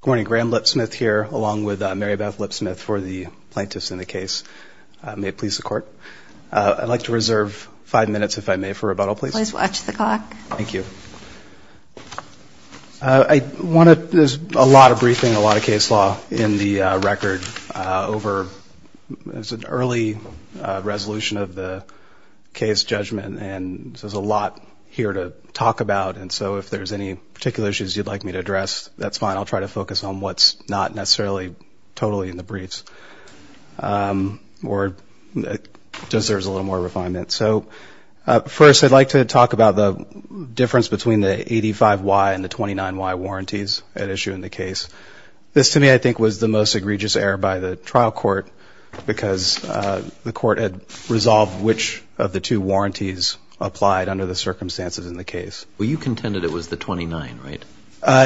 Good morning. Graham Lipsmith here, along with Mary Beth Lipsmith for the plaintiffs in the case. May it please the Court. I'd like to reserve five minutes, if I may, for rebuttal, please. Please watch the clock. Thank you. I want to – there's a lot of briefing, a lot of case law in the record over – it's an early resolution of the case judgment, and there's a lot here to talk about, and so if there's any particular issues you'd like me to address, that's fine. I'll try to focus on what's not necessarily totally in the briefs, or just there's a little more refinement. So first, I'd like to talk about the difference between the 85Y and the 29Y warranties at issue in the case. This, to me, I think was the most egregious error by the trial court, because the court had resolved which of the two warranties applied under the circumstances in the case. Well, you contended it was the 29, right?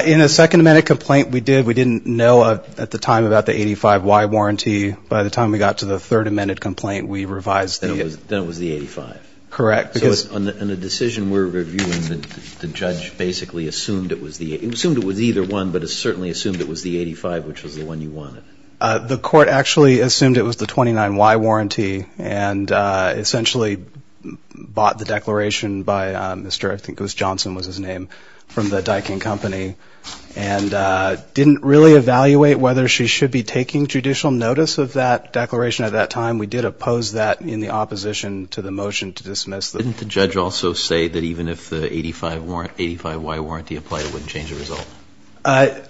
In a Second Amendment complaint we did, we didn't know at the time about the 85Y warranty. By the time we got to the Third Amendment complaint, we revised the – Then it was the 85. Correct. So in the decision we're reviewing, the judge basically assumed it was the – he assumed it was either one, but it certainly assumed it was the 85, which was the one you wanted. The court actually assumed it was the 29Y warranty, and essentially bought the declaration by Mr. – I think it was Johnson was his name – from the Daikin Company, and didn't really evaluate whether she should be taking judicial notice of that declaration at that time. We did oppose that in the opposition to the motion to dismiss the – Didn't the judge also say that even if the 85Y warranty applied, it wouldn't change the result? I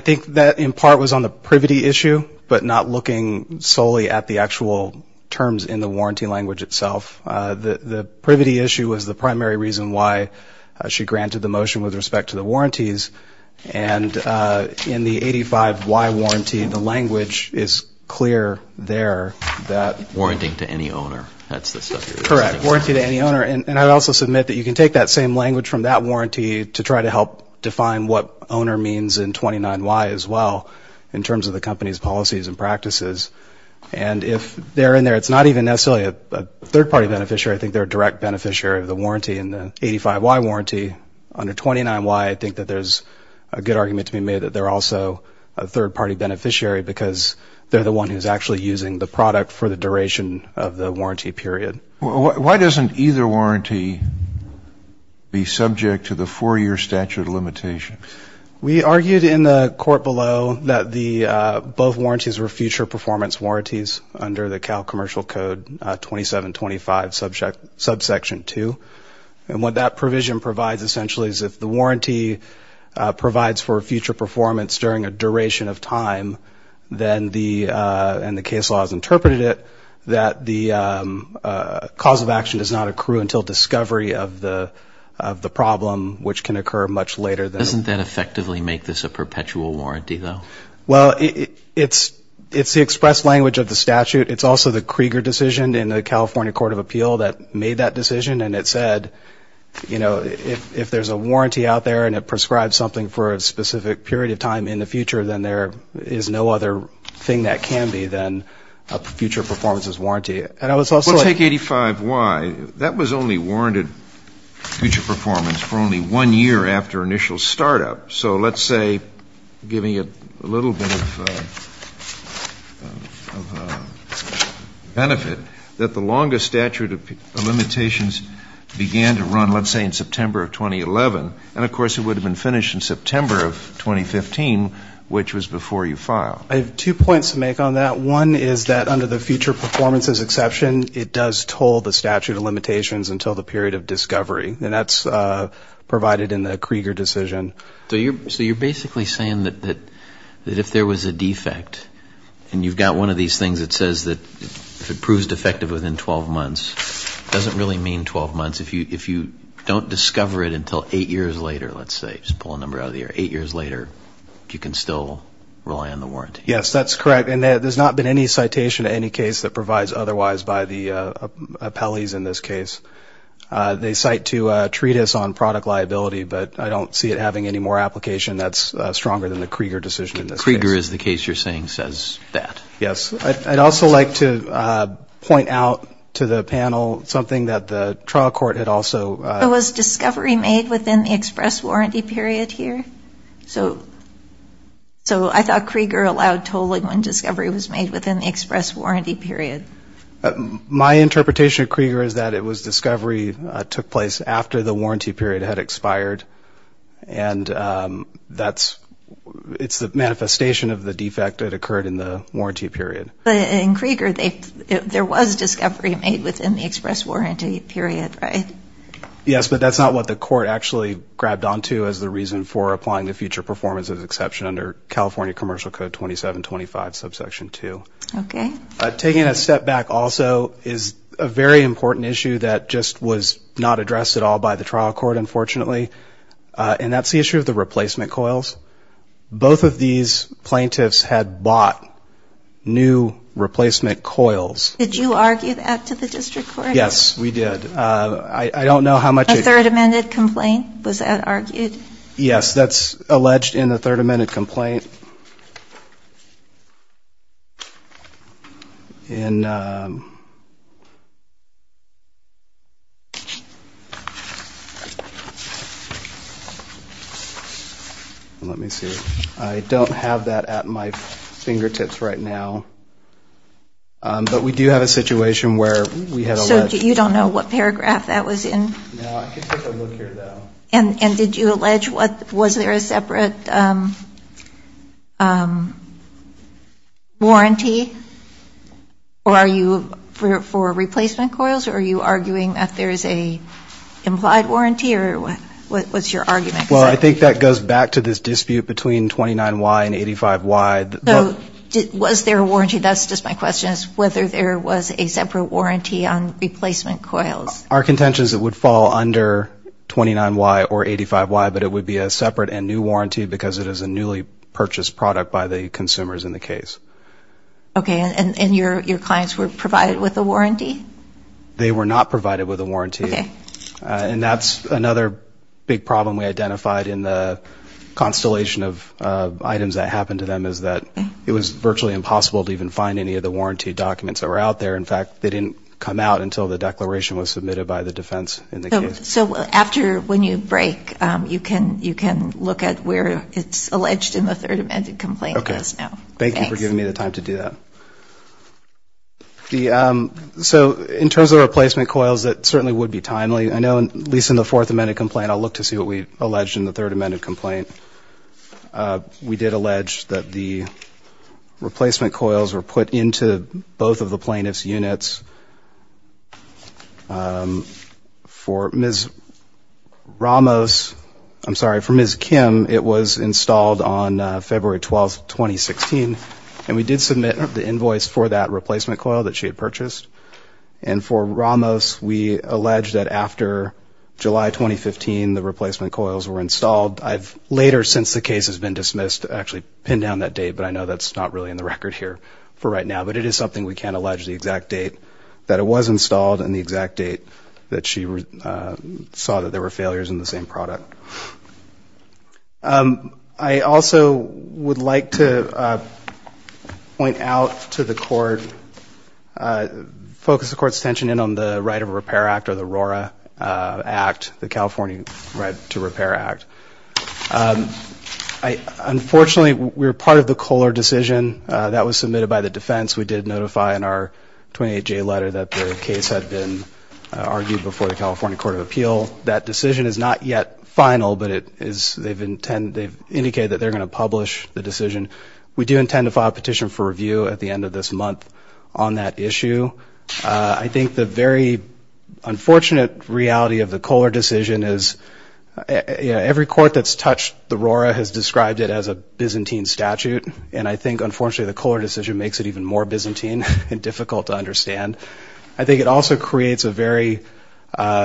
think that in part was on the privity issue, but not looking solely at the actual terms in the warranty language itself. The privity issue was the primary reason why she granted the motion with respect to the warranties. And in the 85Y warranty, the language is clear there that – Warranting to any owner. That's the stuff you're – Correct. Warranty to any owner. And I'd also submit that you can take that same language from that warranty to try to help define what owner means in 29Y as well, in terms of the company's policies and practices. And if they're in there, it's not even necessarily a third-party beneficiary. I think they're a direct beneficiary of the warranty in the 85Y warranty. Under 29Y, I think that there's a good argument to be made that they're also a third-party beneficiary because they're the one who's actually using the product for the duration of the warranty period. Why doesn't either warranty be subject to the four-year statute of limitations? We argued in the court below that the – both warranties were future performance warranties under the Cal Commercial Code 2725, subsection 2. And what that provision provides, essentially, is if the warranty provides for future performance during a duration of time, then the – and the case law has interpreted it – that the cause of action does not accrue until discovery of the problem, which can occur much later than – Doesn't that effectively make this a perpetual warranty, though? Well, it's the expressed language of the statute. It's also the Krieger decision in the California Court of Appeal that made that decision. And it said, you know, if there's a warranty out there and it prescribes something for a specific period of time in the future, then there is no other thing that can be than a future performances warranty. And I was also – Well, take 85Y. That was only warranted future performance for only one year after initial startup. So let's say, giving it a little bit of benefit, that the longest statute of limitations began to run, let's say, in September of 2011. And, of course, it would have been finished in September of 2015, which was before you filed. I have two points to make on that. One is that under the future performances exception, it does toll the statute of limitations until the period of discovery. And that's provided in the Krieger decision. So you're basically saying that if there was a defect and you've got one of these things that says that if it proves defective within 12 months, it doesn't really mean 12 months. If you don't discover it until eight years later, let's say, just pull a number out of the air, eight years later, you can still rely on the warranty. Yes, that's correct. And there's not been any citation in any case that provides otherwise by the appellees in this case. They cite to a treatise on product liability, but I don't see it having any more application. That's stronger than the Krieger decision in this case. Krieger is the case you're saying says that. Yes. I'd also like to point out to the panel something that the trial court had also. Was discovery made within the express warranty period here? So I thought Krieger allowed tolling when discovery was made within the express warranty period. My interpretation of Krieger is that it was discovery took place after the warranty period had expired, and it's the manifestation of the defect that occurred in the warranty period. But in Krieger, there was discovery made within the express warranty period, right? Yes, but that's not what the court actually grabbed onto as the reason for applying the future performance as an exception under California Commercial Code 2725, subsection 2. Okay. Taking a step back also is a very important issue that just was not addressed at all by the trial court, unfortunately, and that's the issue of the replacement coils. Both of these plaintiffs had bought new replacement coils. Did you argue that to the district court? Yes, we did. I don't know how much. A third amended complaint, was that argued? Yes, that's alleged in the third amended complaint. Let me see. I don't have that at my fingertips right now, but we do have a situation where we have alleged. So you don't know what paragraph that was in? No, I can take a look here, though. And did you allege was there a separate warranty for replacement coils, or are you arguing that there is an implied warranty, or what's your argument? Well, I think that goes back to this dispute between 29Y and 85Y. So was there a warranty? That's just my question, is whether there was a separate warranty on replacement coils. Our contention is it would fall under 29Y or 85Y, but it would be a separate and new warranty because it is a newly purchased product by the consumers in the case. Okay, and your clients were provided with a warranty? They were not provided with a warranty. Okay. And that's another big problem we identified in the constellation of items that happened to them, is that it was virtually impossible to even find any of the warranty documents that were out there. In fact, they didn't come out until the declaration was submitted by the defense in the case. So after, when you break, you can look at where it's alleged in the third amended complaint. Okay. Thanks. Thank you for giving me the time to do that. So in terms of replacement coils, it certainly would be timely. I know, at least in the fourth amended complaint, I'll look to see what we alleged in the third amended complaint. We did allege that the replacement coils were put into both of the plaintiff's units. For Ms. Ramos, I'm sorry, for Ms. Kim, it was installed on February 12th, 2016, and we did submit the invoice for that replacement coil that she had purchased. And for Ramos, we allege that after July 2015, the replacement coils were installed. I've later, since the case has been dismissed, actually pinned down that date, but I know that's not really in the record here for right now, but it is something we can allege the exact date that it was installed and the exact date that she saw that there were failures in the same product. I also would like to point out to the Court, focus the Court's attention in on the Right of Repair Act or the RORA Act, the California Right to Repair Act. Unfortunately, we were part of the Kohler decision. That was submitted by the defense. We did notify in our 28-J letter that the case had been argued before the California Court of Appeal. That decision is not yet final, but they've indicated that they're going to publish the decision. We do intend to file a petition for review at the end of this month on that issue. I think the very unfortunate reality of the Kohler decision is every court that's touched the RORA has described it as a Byzantine statute, and I think, unfortunately, the Kohler decision makes it even more Byzantine and difficult to understand. I think it also creates a very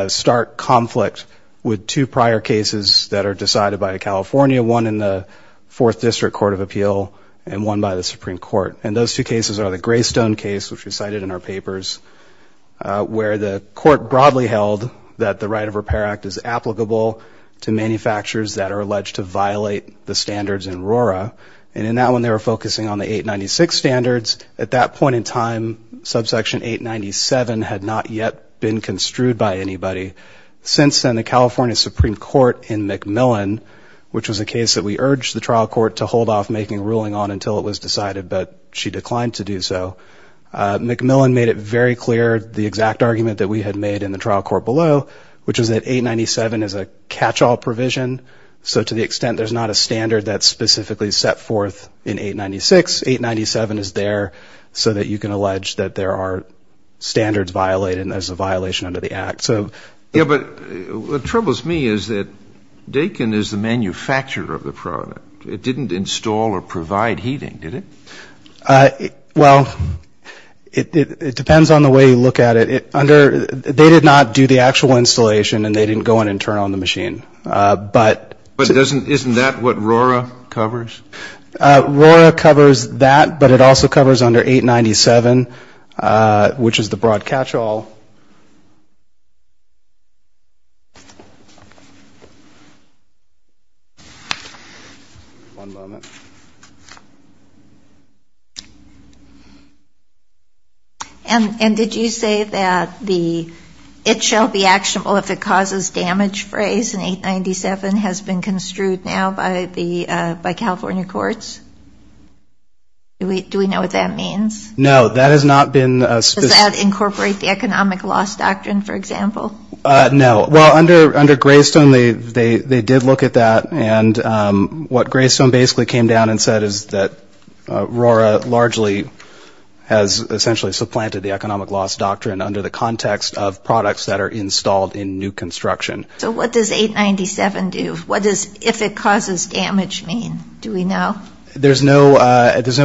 stark conflict with two prior cases that are decided by California, one in the Fourth District Court of Appeal and one by the Supreme Court, and those two cases are the Greystone case, which we cited in our papers, where the Court broadly held that the Right of Repair Act is applicable to manufacturers that are alleged to violate the standards in RORA, and in that one they were focusing on the 896 standards. At that point in time, subsection 897 had not yet been construed by anybody. Since then, the California Supreme Court in McMillan, which was a case that we urged the trial court to hold off making a ruling on until it was decided, but she declined to do so, McMillan made it very clear the exact argument that we had made in the trial court below, which was that 897 is a catch-all provision, so to the extent there's not a standard that's specifically set forth in 896, 897 is there so that you can allege that there are standards violated and there's a violation under the Act. Yeah, but what troubles me is that Dakin is the manufacturer of the product. It didn't install or provide heating, did it? Well, it depends on the way you look at it. They did not do the actual installation, and they didn't go in and turn on the machine. But isn't that what RORA covers? RORA covers that, but it also covers under 897, which is the broad catch-all. And did you say that the it shall be actionable if it causes damage phrase in 897 has been construed now by California courts? Do we know what that means? No, that has not been specific. Does that incorporate the economic loss doctrine, for example? No. Well, under Greystone, they did look at that, and what Greystone basically came down and said is that RORA largely has essentially supplanted the economic loss doctrine under the context of products that are installed in new construction. So what does 897 do? What does if it causes damage mean? Do we know? There's no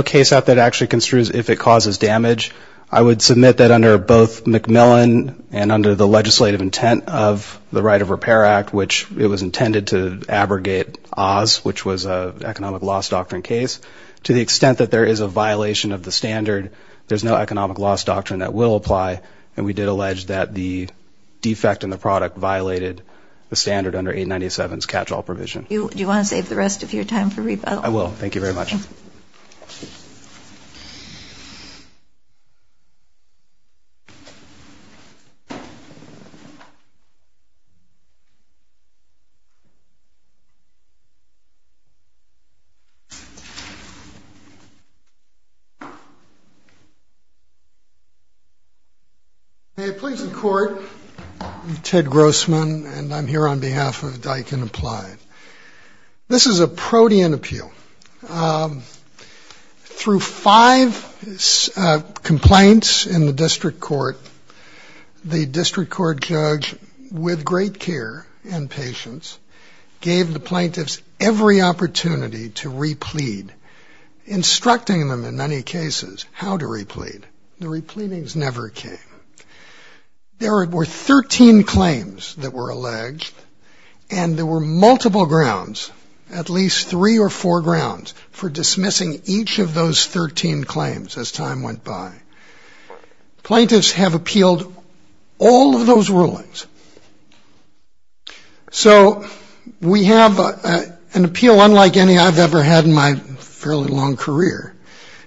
case out there that actually construes if it causes damage. I would submit that under both McMillan and under the legislative intent of the Right of Repair Act, which it was intended to abrogate Oz, which was an economic loss doctrine case, to the extent that there is a violation of the standard, there's no economic loss doctrine that will apply, and we did allege that the defect in the product violated the standard under 897's catch-all provision. Do you want to save the rest of your time for rebuttal? I will. Thank you very much. Okay. May it please the Court, I'm Ted Grossman, and I'm here on behalf of Diken Applied. This is a protean appeal. Through five complaints in the district court, the district court judge, with great care and patience, gave the plaintiffs every opportunity to replead, instructing them in many cases how to replead. The repleadings never came. There were 13 claims that were alleged, and there were multiple grounds, at least three or four grounds for dismissing each of those 13 claims as time went by. Plaintiffs have appealed all of those rulings. So we have an appeal unlike any I've ever had in my fairly long career,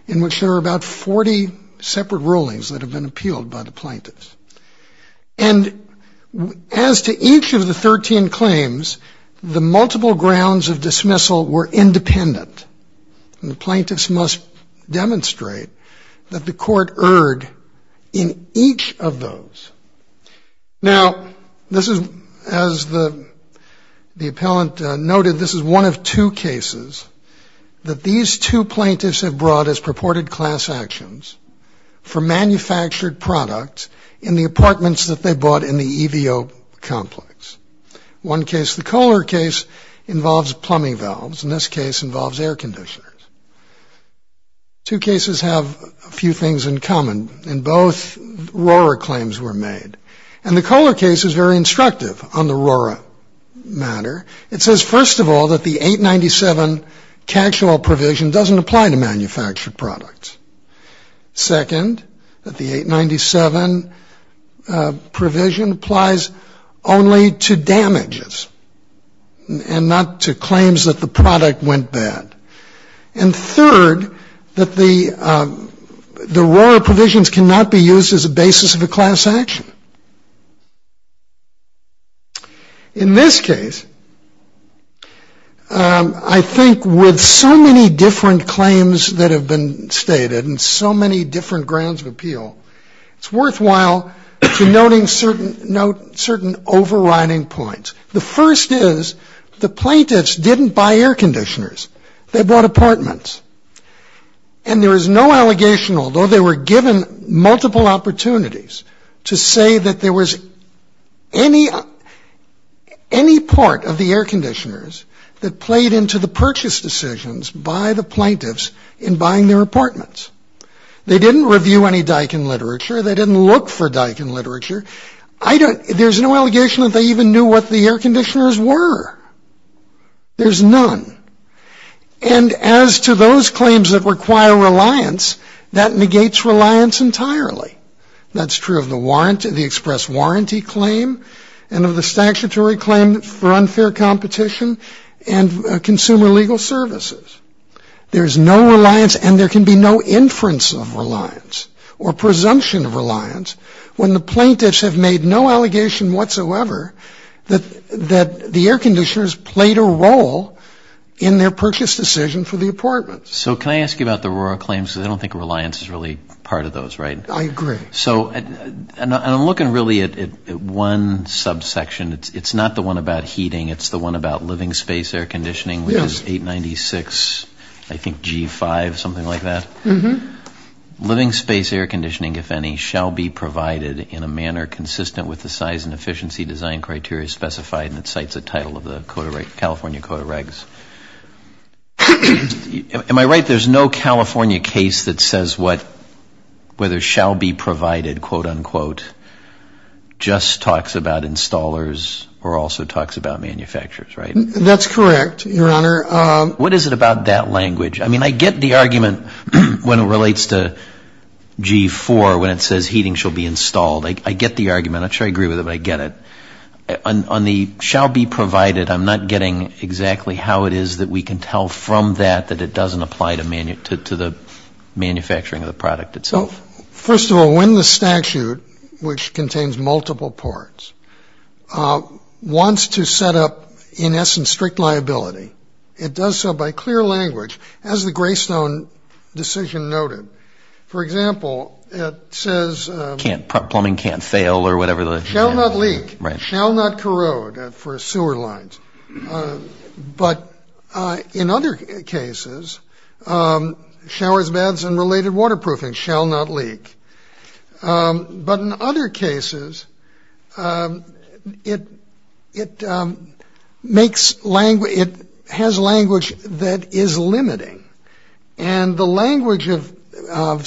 in which there are about 40 separate rulings that have been appealed by the plaintiffs. And as to each of the 13 claims, the multiple grounds of dismissal were independent, and the plaintiffs must demonstrate that the court erred in each of those. Now, this is, as the appellant noted, this is one of two cases that these two plaintiffs have brought as purported class actions for manufactured products in the apartments that they bought in the EVO complex. One case, the Kohler case, involves plumbing valves. In this case, it involves air conditioners. Two cases have a few things in common, and both Rohrer claims were made. And the Kohler case is very instructive on the Rohrer matter. It says, first of all, that the 897 catch-all provision doesn't apply to manufactured products. Second, that the 897 provision applies only to damages and not to claims that the product went bad. And third, that the Rohrer provisions cannot be used as a basis of a class action. In this case, I think with so many different claims that have been stated and so many different grounds of appeal, it's worthwhile to note certain overriding points. The first is the plaintiffs didn't buy air conditioners. They bought apartments. And there is no allegation, although they were given multiple opportunities, to say that there was any part of the air conditioners that played into the purchase decisions by the plaintiffs in buying their apartments. They didn't review any Daikin literature. They didn't look for Daikin literature. There's no allegation that they even knew what the air conditioners were. There's none. And as to those claims that require reliance, that negates reliance entirely. That's true of the express warranty claim and of the statutory claim for unfair competition and consumer legal services. There's no reliance, and there can be no inference of reliance or presumption of reliance, when the plaintiffs have made no allegation whatsoever that the air conditioners played a role in their purchase decision for the apartments. So can I ask you about the Rora claims? Because I don't think reliance is really part of those, right? I agree. So I'm looking really at one subsection. It's not the one about heating. It's the one about living space air conditioning, which is 896, I think G5, something like that. Mm-hmm. Living space air conditioning, if any, shall be provided in a manner consistent with the size and efficiency design criteria specified in the title of the California Code of Regs. Am I right? There's no California case that says whether shall be provided, quote, unquote, just talks about installers or also talks about manufacturers, right? That's correct, Your Honor. What is it about that language? I mean, I get the argument when it relates to G4 when it says heating shall be installed. I get the argument. I'm not sure I agree with it, but I get it. On the shall be provided, I'm not getting exactly how it is that we can tell from that that it doesn't apply to the manufacturing of the product itself. First of all, when the statute, which contains multiple parts, wants to set up, in essence, strict liability, it does so by clear language, as the Greystone decision noted. For example, it says- Plumbing can't fail or whatever the- Shall not leak. Right. Shall not corrode for sewer lines. But in other cases, showers, baths, and related waterproofing shall not leak. But in other cases, it has language that is limiting. And the language of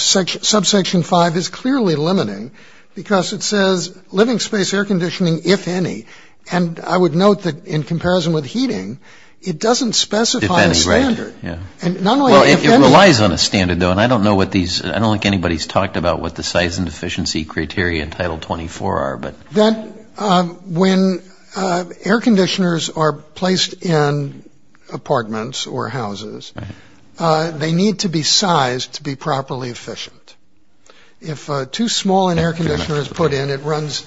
subsection 5 is clearly limiting because it says living space air conditioning, if any. And I would note that in comparison with heating, it doesn't specify a standard. If any, right. And not only if any- It relies on a standard, though, and I don't know what these- I don't think anybody's talked about what the size and efficiency criteria in Title 24 are. When air conditioners are placed in apartments or houses, they need to be sized to be properly efficient. If too small an air conditioner is put in, it runs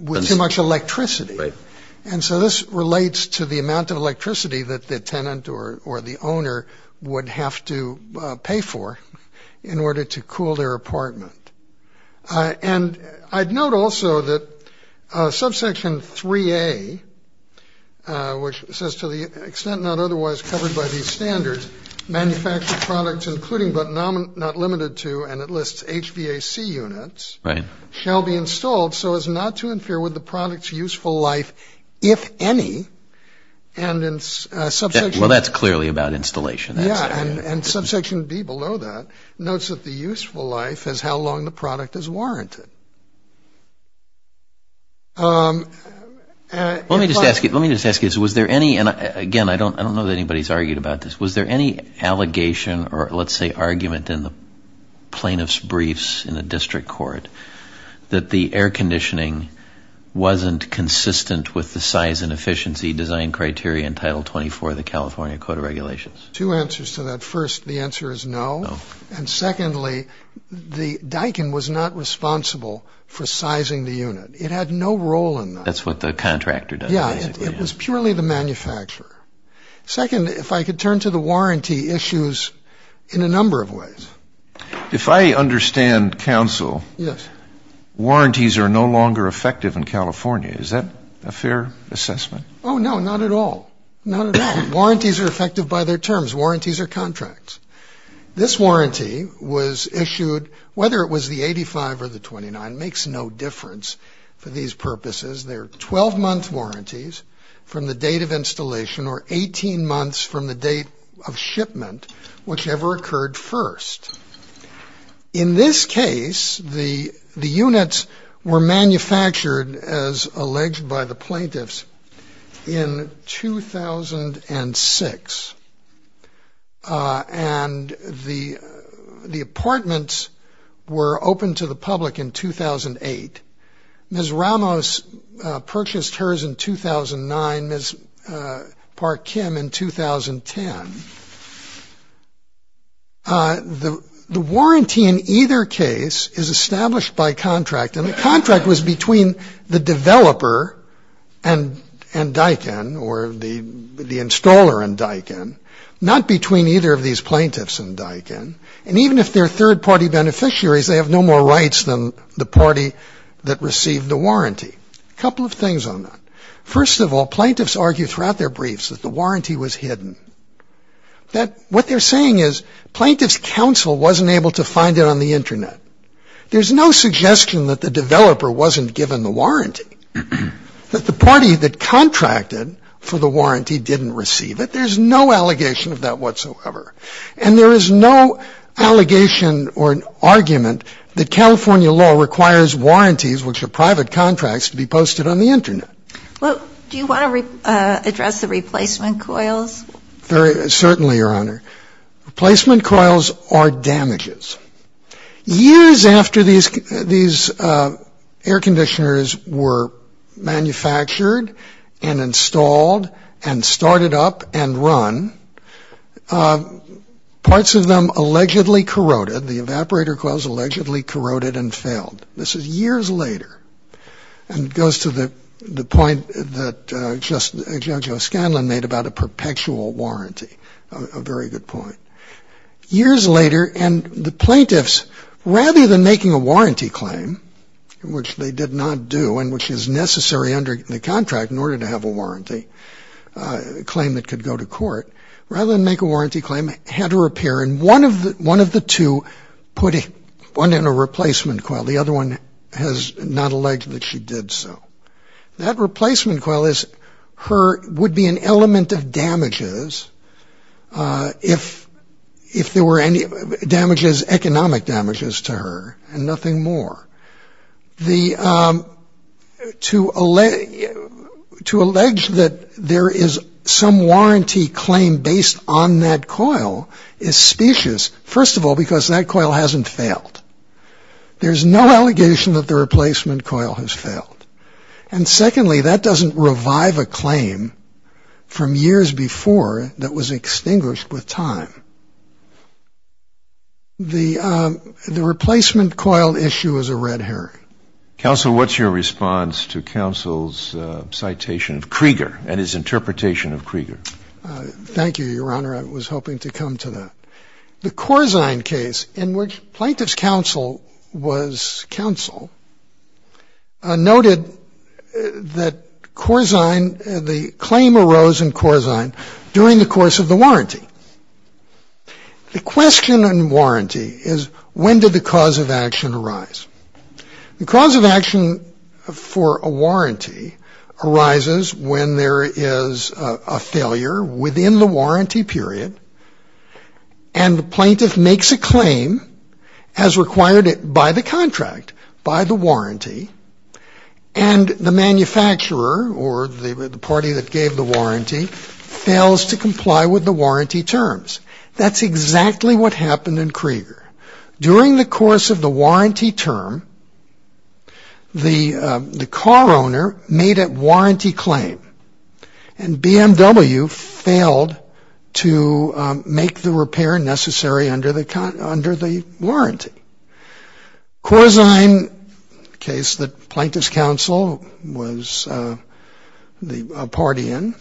with too much electricity. And so this relates to the amount of electricity that the tenant or the owner would have to pay for in order to cool their apartment. And I'd note also that subsection 3A, which says to the extent not otherwise covered by these standards, manufactured products including but not limited to, and it lists HVAC units- Right. Shall be installed so as not to interfere with the product's useful life, if any, and in subsection- Well, that's clearly about installation. Yeah, and subsection B below that notes that the useful life is how long the product is warranted. Let me just ask you, let me just ask you, was there any- And again, I don't know that anybody's argued about this. Was there any allegation or let's say argument in the plaintiff's briefs in the district court that the air conditioning wasn't consistent with the size and efficiency design criteria in Title 24 of the California Code of Regulations? Two answers to that. First, the answer is no. No. And secondly, the Daikin was not responsible for sizing the unit. It had no role in that. That's what the contractor does, basically. Yeah, it was purely the manufacturer. Second, if I could turn to the warranty issues in a number of ways. If I understand counsel- Yes. Warranties are no longer effective in California. Is that a fair assessment? Oh, no, not at all. Not at all. Warranties are effective by their terms. Warranties are contracts. This warranty was issued, whether it was the 85 or the 29, makes no difference for these purposes. They're 12-month warranties from the date of installation or 18 months from the date of shipment, whichever occurred first. In this case, the units were manufactured, as alleged by the plaintiffs, in 2006. And the apartments were opened to the public in 2008. Ms. Ramos purchased hers in 2009, Ms. Park Kim in 2010. The warranty in either case is established by contract. And the contract was between the developer and Daikin, or the installer and Daikin, not between either of these plaintiffs and Daikin. And even if they're third-party beneficiaries, they have no more rights than the party that received the warranty. A couple of things on that. First of all, plaintiffs argue throughout their briefs that the warranty was hidden. What they're saying is plaintiffs' counsel wasn't able to find it on the Internet. There's no suggestion that the developer wasn't given the warranty, that the party that contracted for the warranty didn't receive it. There's no allegation of that whatsoever. And there is no allegation or argument that California law requires warranties, which are private contracts, to be posted on the Internet. Well, do you want to address the replacement coils? Certainly, Your Honor. Replacement coils are damages. Years after these air conditioners were manufactured and installed and started up and run, parts of them allegedly corroded. The evaporator coils allegedly corroded and failed. This is years later. And it goes to the point that Judge O'Scanlan made about a perpetual warranty, a very good point. Years later, and the plaintiffs, rather than making a warranty claim, which they did not do and which is necessary under the contract in order to have a warranty claim that could go to court, rather than make a warranty claim, had to repair. And one of the two put one in a replacement coil. The other one has not alleged that she did so. That replacement coil would be an element of damages if there were any damages, economic damages to her and nothing more. To allege that there is some warranty claim based on that coil is specious. First of all, because that coil hasn't failed. There's no allegation that the replacement coil has failed. And secondly, that doesn't revive a claim from years before that was extinguished with time. The replacement coil issue is a red herring. Counsel, what's your response to counsel's citation of Krieger and his interpretation of Krieger? Thank you, Your Honor. I was hoping to come to that. The Corzine case in which plaintiff's counsel was counsel noted that Corzine, the claim arose in Corzine during the course of the warranty. The question on warranty is when did the cause of action arise? The cause of action for a warranty arises when there is a failure within the warranty period and the plaintiff makes a claim as required by the contract, by the warranty, and the manufacturer or the party that gave the warranty fails to comply with the warranty terms. That's exactly what happened in Krieger. During the course of the warranty term, the car owner made a warranty claim and BMW failed to make the repair necessary under the warranty. Corzine case that plaintiff's counsel was a party in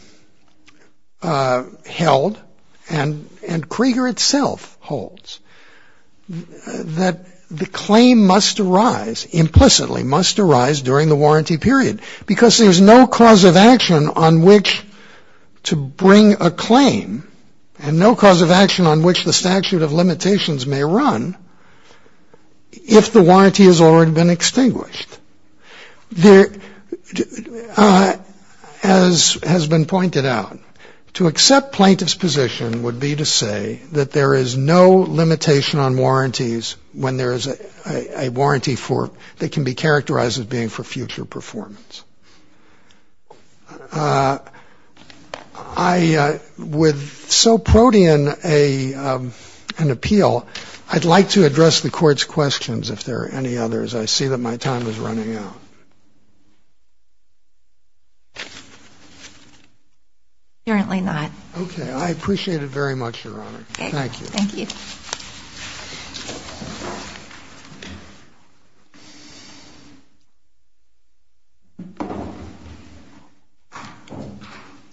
held and Krieger itself holds that the claim must arise, implicitly must arise during the warranty period because there's no cause of action on which to bring a claim and no cause of action on which the statute of limitations may run if the warranty has already been extinguished. As has been pointed out, to accept plaintiff's position would be to say that there is no limitation on warranties when there is a warranty that can be characterized as being for future performance. With so protean an appeal, I'd like to address the court's questions if there are any others. I see that my time is running out. Apparently not. Okay. I appreciate it very much, Your Honor. Thank you. Thank you. Thank you.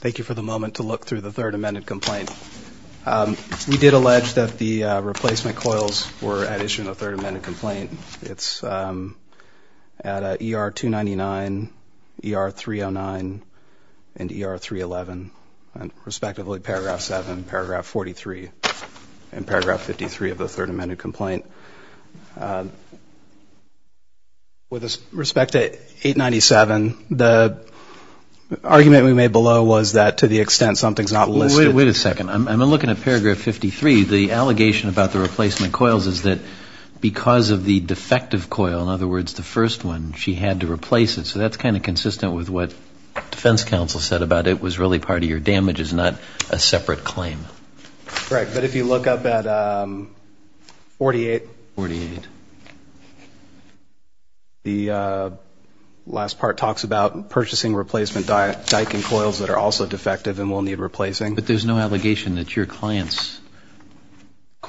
Thank you for the moment to look through the third amended complaint. We did allege that the replacement coils were at issue in the third amended complaint. It's at ER-299, ER-309, and ER-311, respectively paragraph 7, paragraph 43, and paragraph 53 of the third amended complaint. With respect to 897, the argument we made below was that to the extent something's not listed. Wait a second. I'm looking at paragraph 53. Paragraph 53, the allegation about the replacement coils is that because of the defective coil, in other words the first one, she had to replace it. So that's kind of consistent with what defense counsel said about it was really part of your damages, not a separate claim. Right. But if you look up at 48, the last part talks about purchasing replacement dyke and coils that are also defective and will need replacing. But there's no allegation that your client's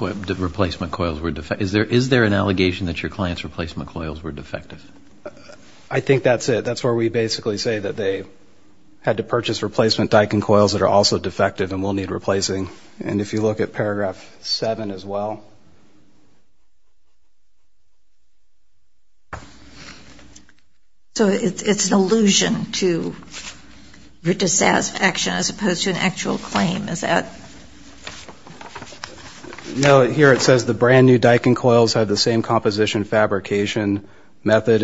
replacement coils were defective. Is there an allegation that your client's replacement coils were defective? I think that's it. That's where we basically say that they had to purchase replacement dyke and coils that are also defective and will need replacing. And if you look at paragraph 7 as well. So it's an allusion to your dissatisfaction as opposed to an actual claim, is that? No. Here it says the brand new dyke and coils have the same composition fabrication method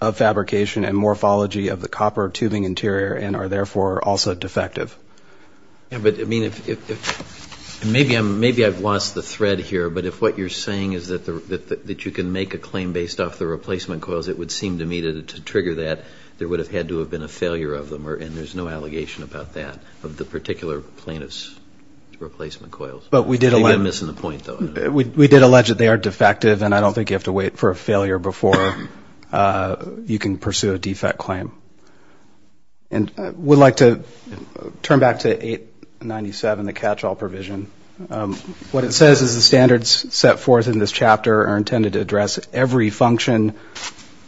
of fabrication and morphology of the copper tubing interior and are therefore also defective. Maybe I've lost the thread here. But if what you're saying is that you can make a claim based off the replacement coils, it would seem to me that to trigger that there would have had to have been a failure of them and there's no allegation about that of the particular plaintiff's replacement coils. Maybe I'm missing the point though. We did allege that they are defective and I don't think you have to wait for a failure before you can pursue a defect claim. And I would like to turn back to 897, the catch-all provision. What it says is the standards set forth in this chapter are intended to address every function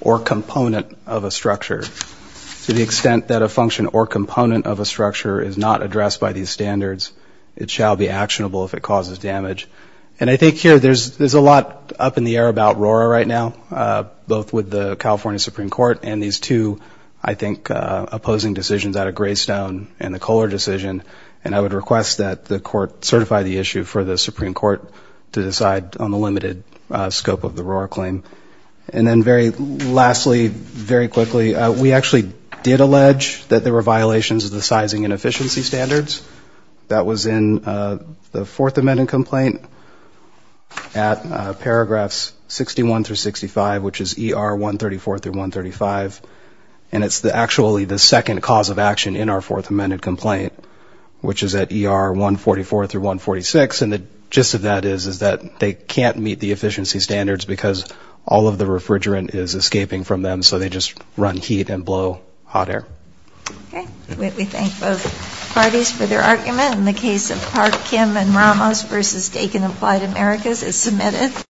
or component of a structure. To the extent that a function or component of a structure is not addressed by these standards, it shall be actionable if it causes damage. And I think here there's a lot up in the air about RORA right now, both with the California Supreme Court and these two, I think, opposing decisions out of Greystone and the Kohler decision, and I would request that the court certify the issue for the Supreme Court to decide on the limited scope of the RORA claim. And then very lastly, very quickly, we actually did allege that there were violations of the sizing and efficiency standards. That was in the Fourth Amendment complaint at paragraphs 61 through 65, which is ER 134 through 135. And it's actually the second cause of action in our Fourth Amendment complaint, which is at ER 144 through 146. And the gist of that is that they can't meet the efficiency standards because all of the refrigerant is escaping from them, so they just run heat and blow hot air. Okay. We thank both parties for their argument. And the case of Park, Kim, and Ramos v. Dakin Applied Americas is submitted.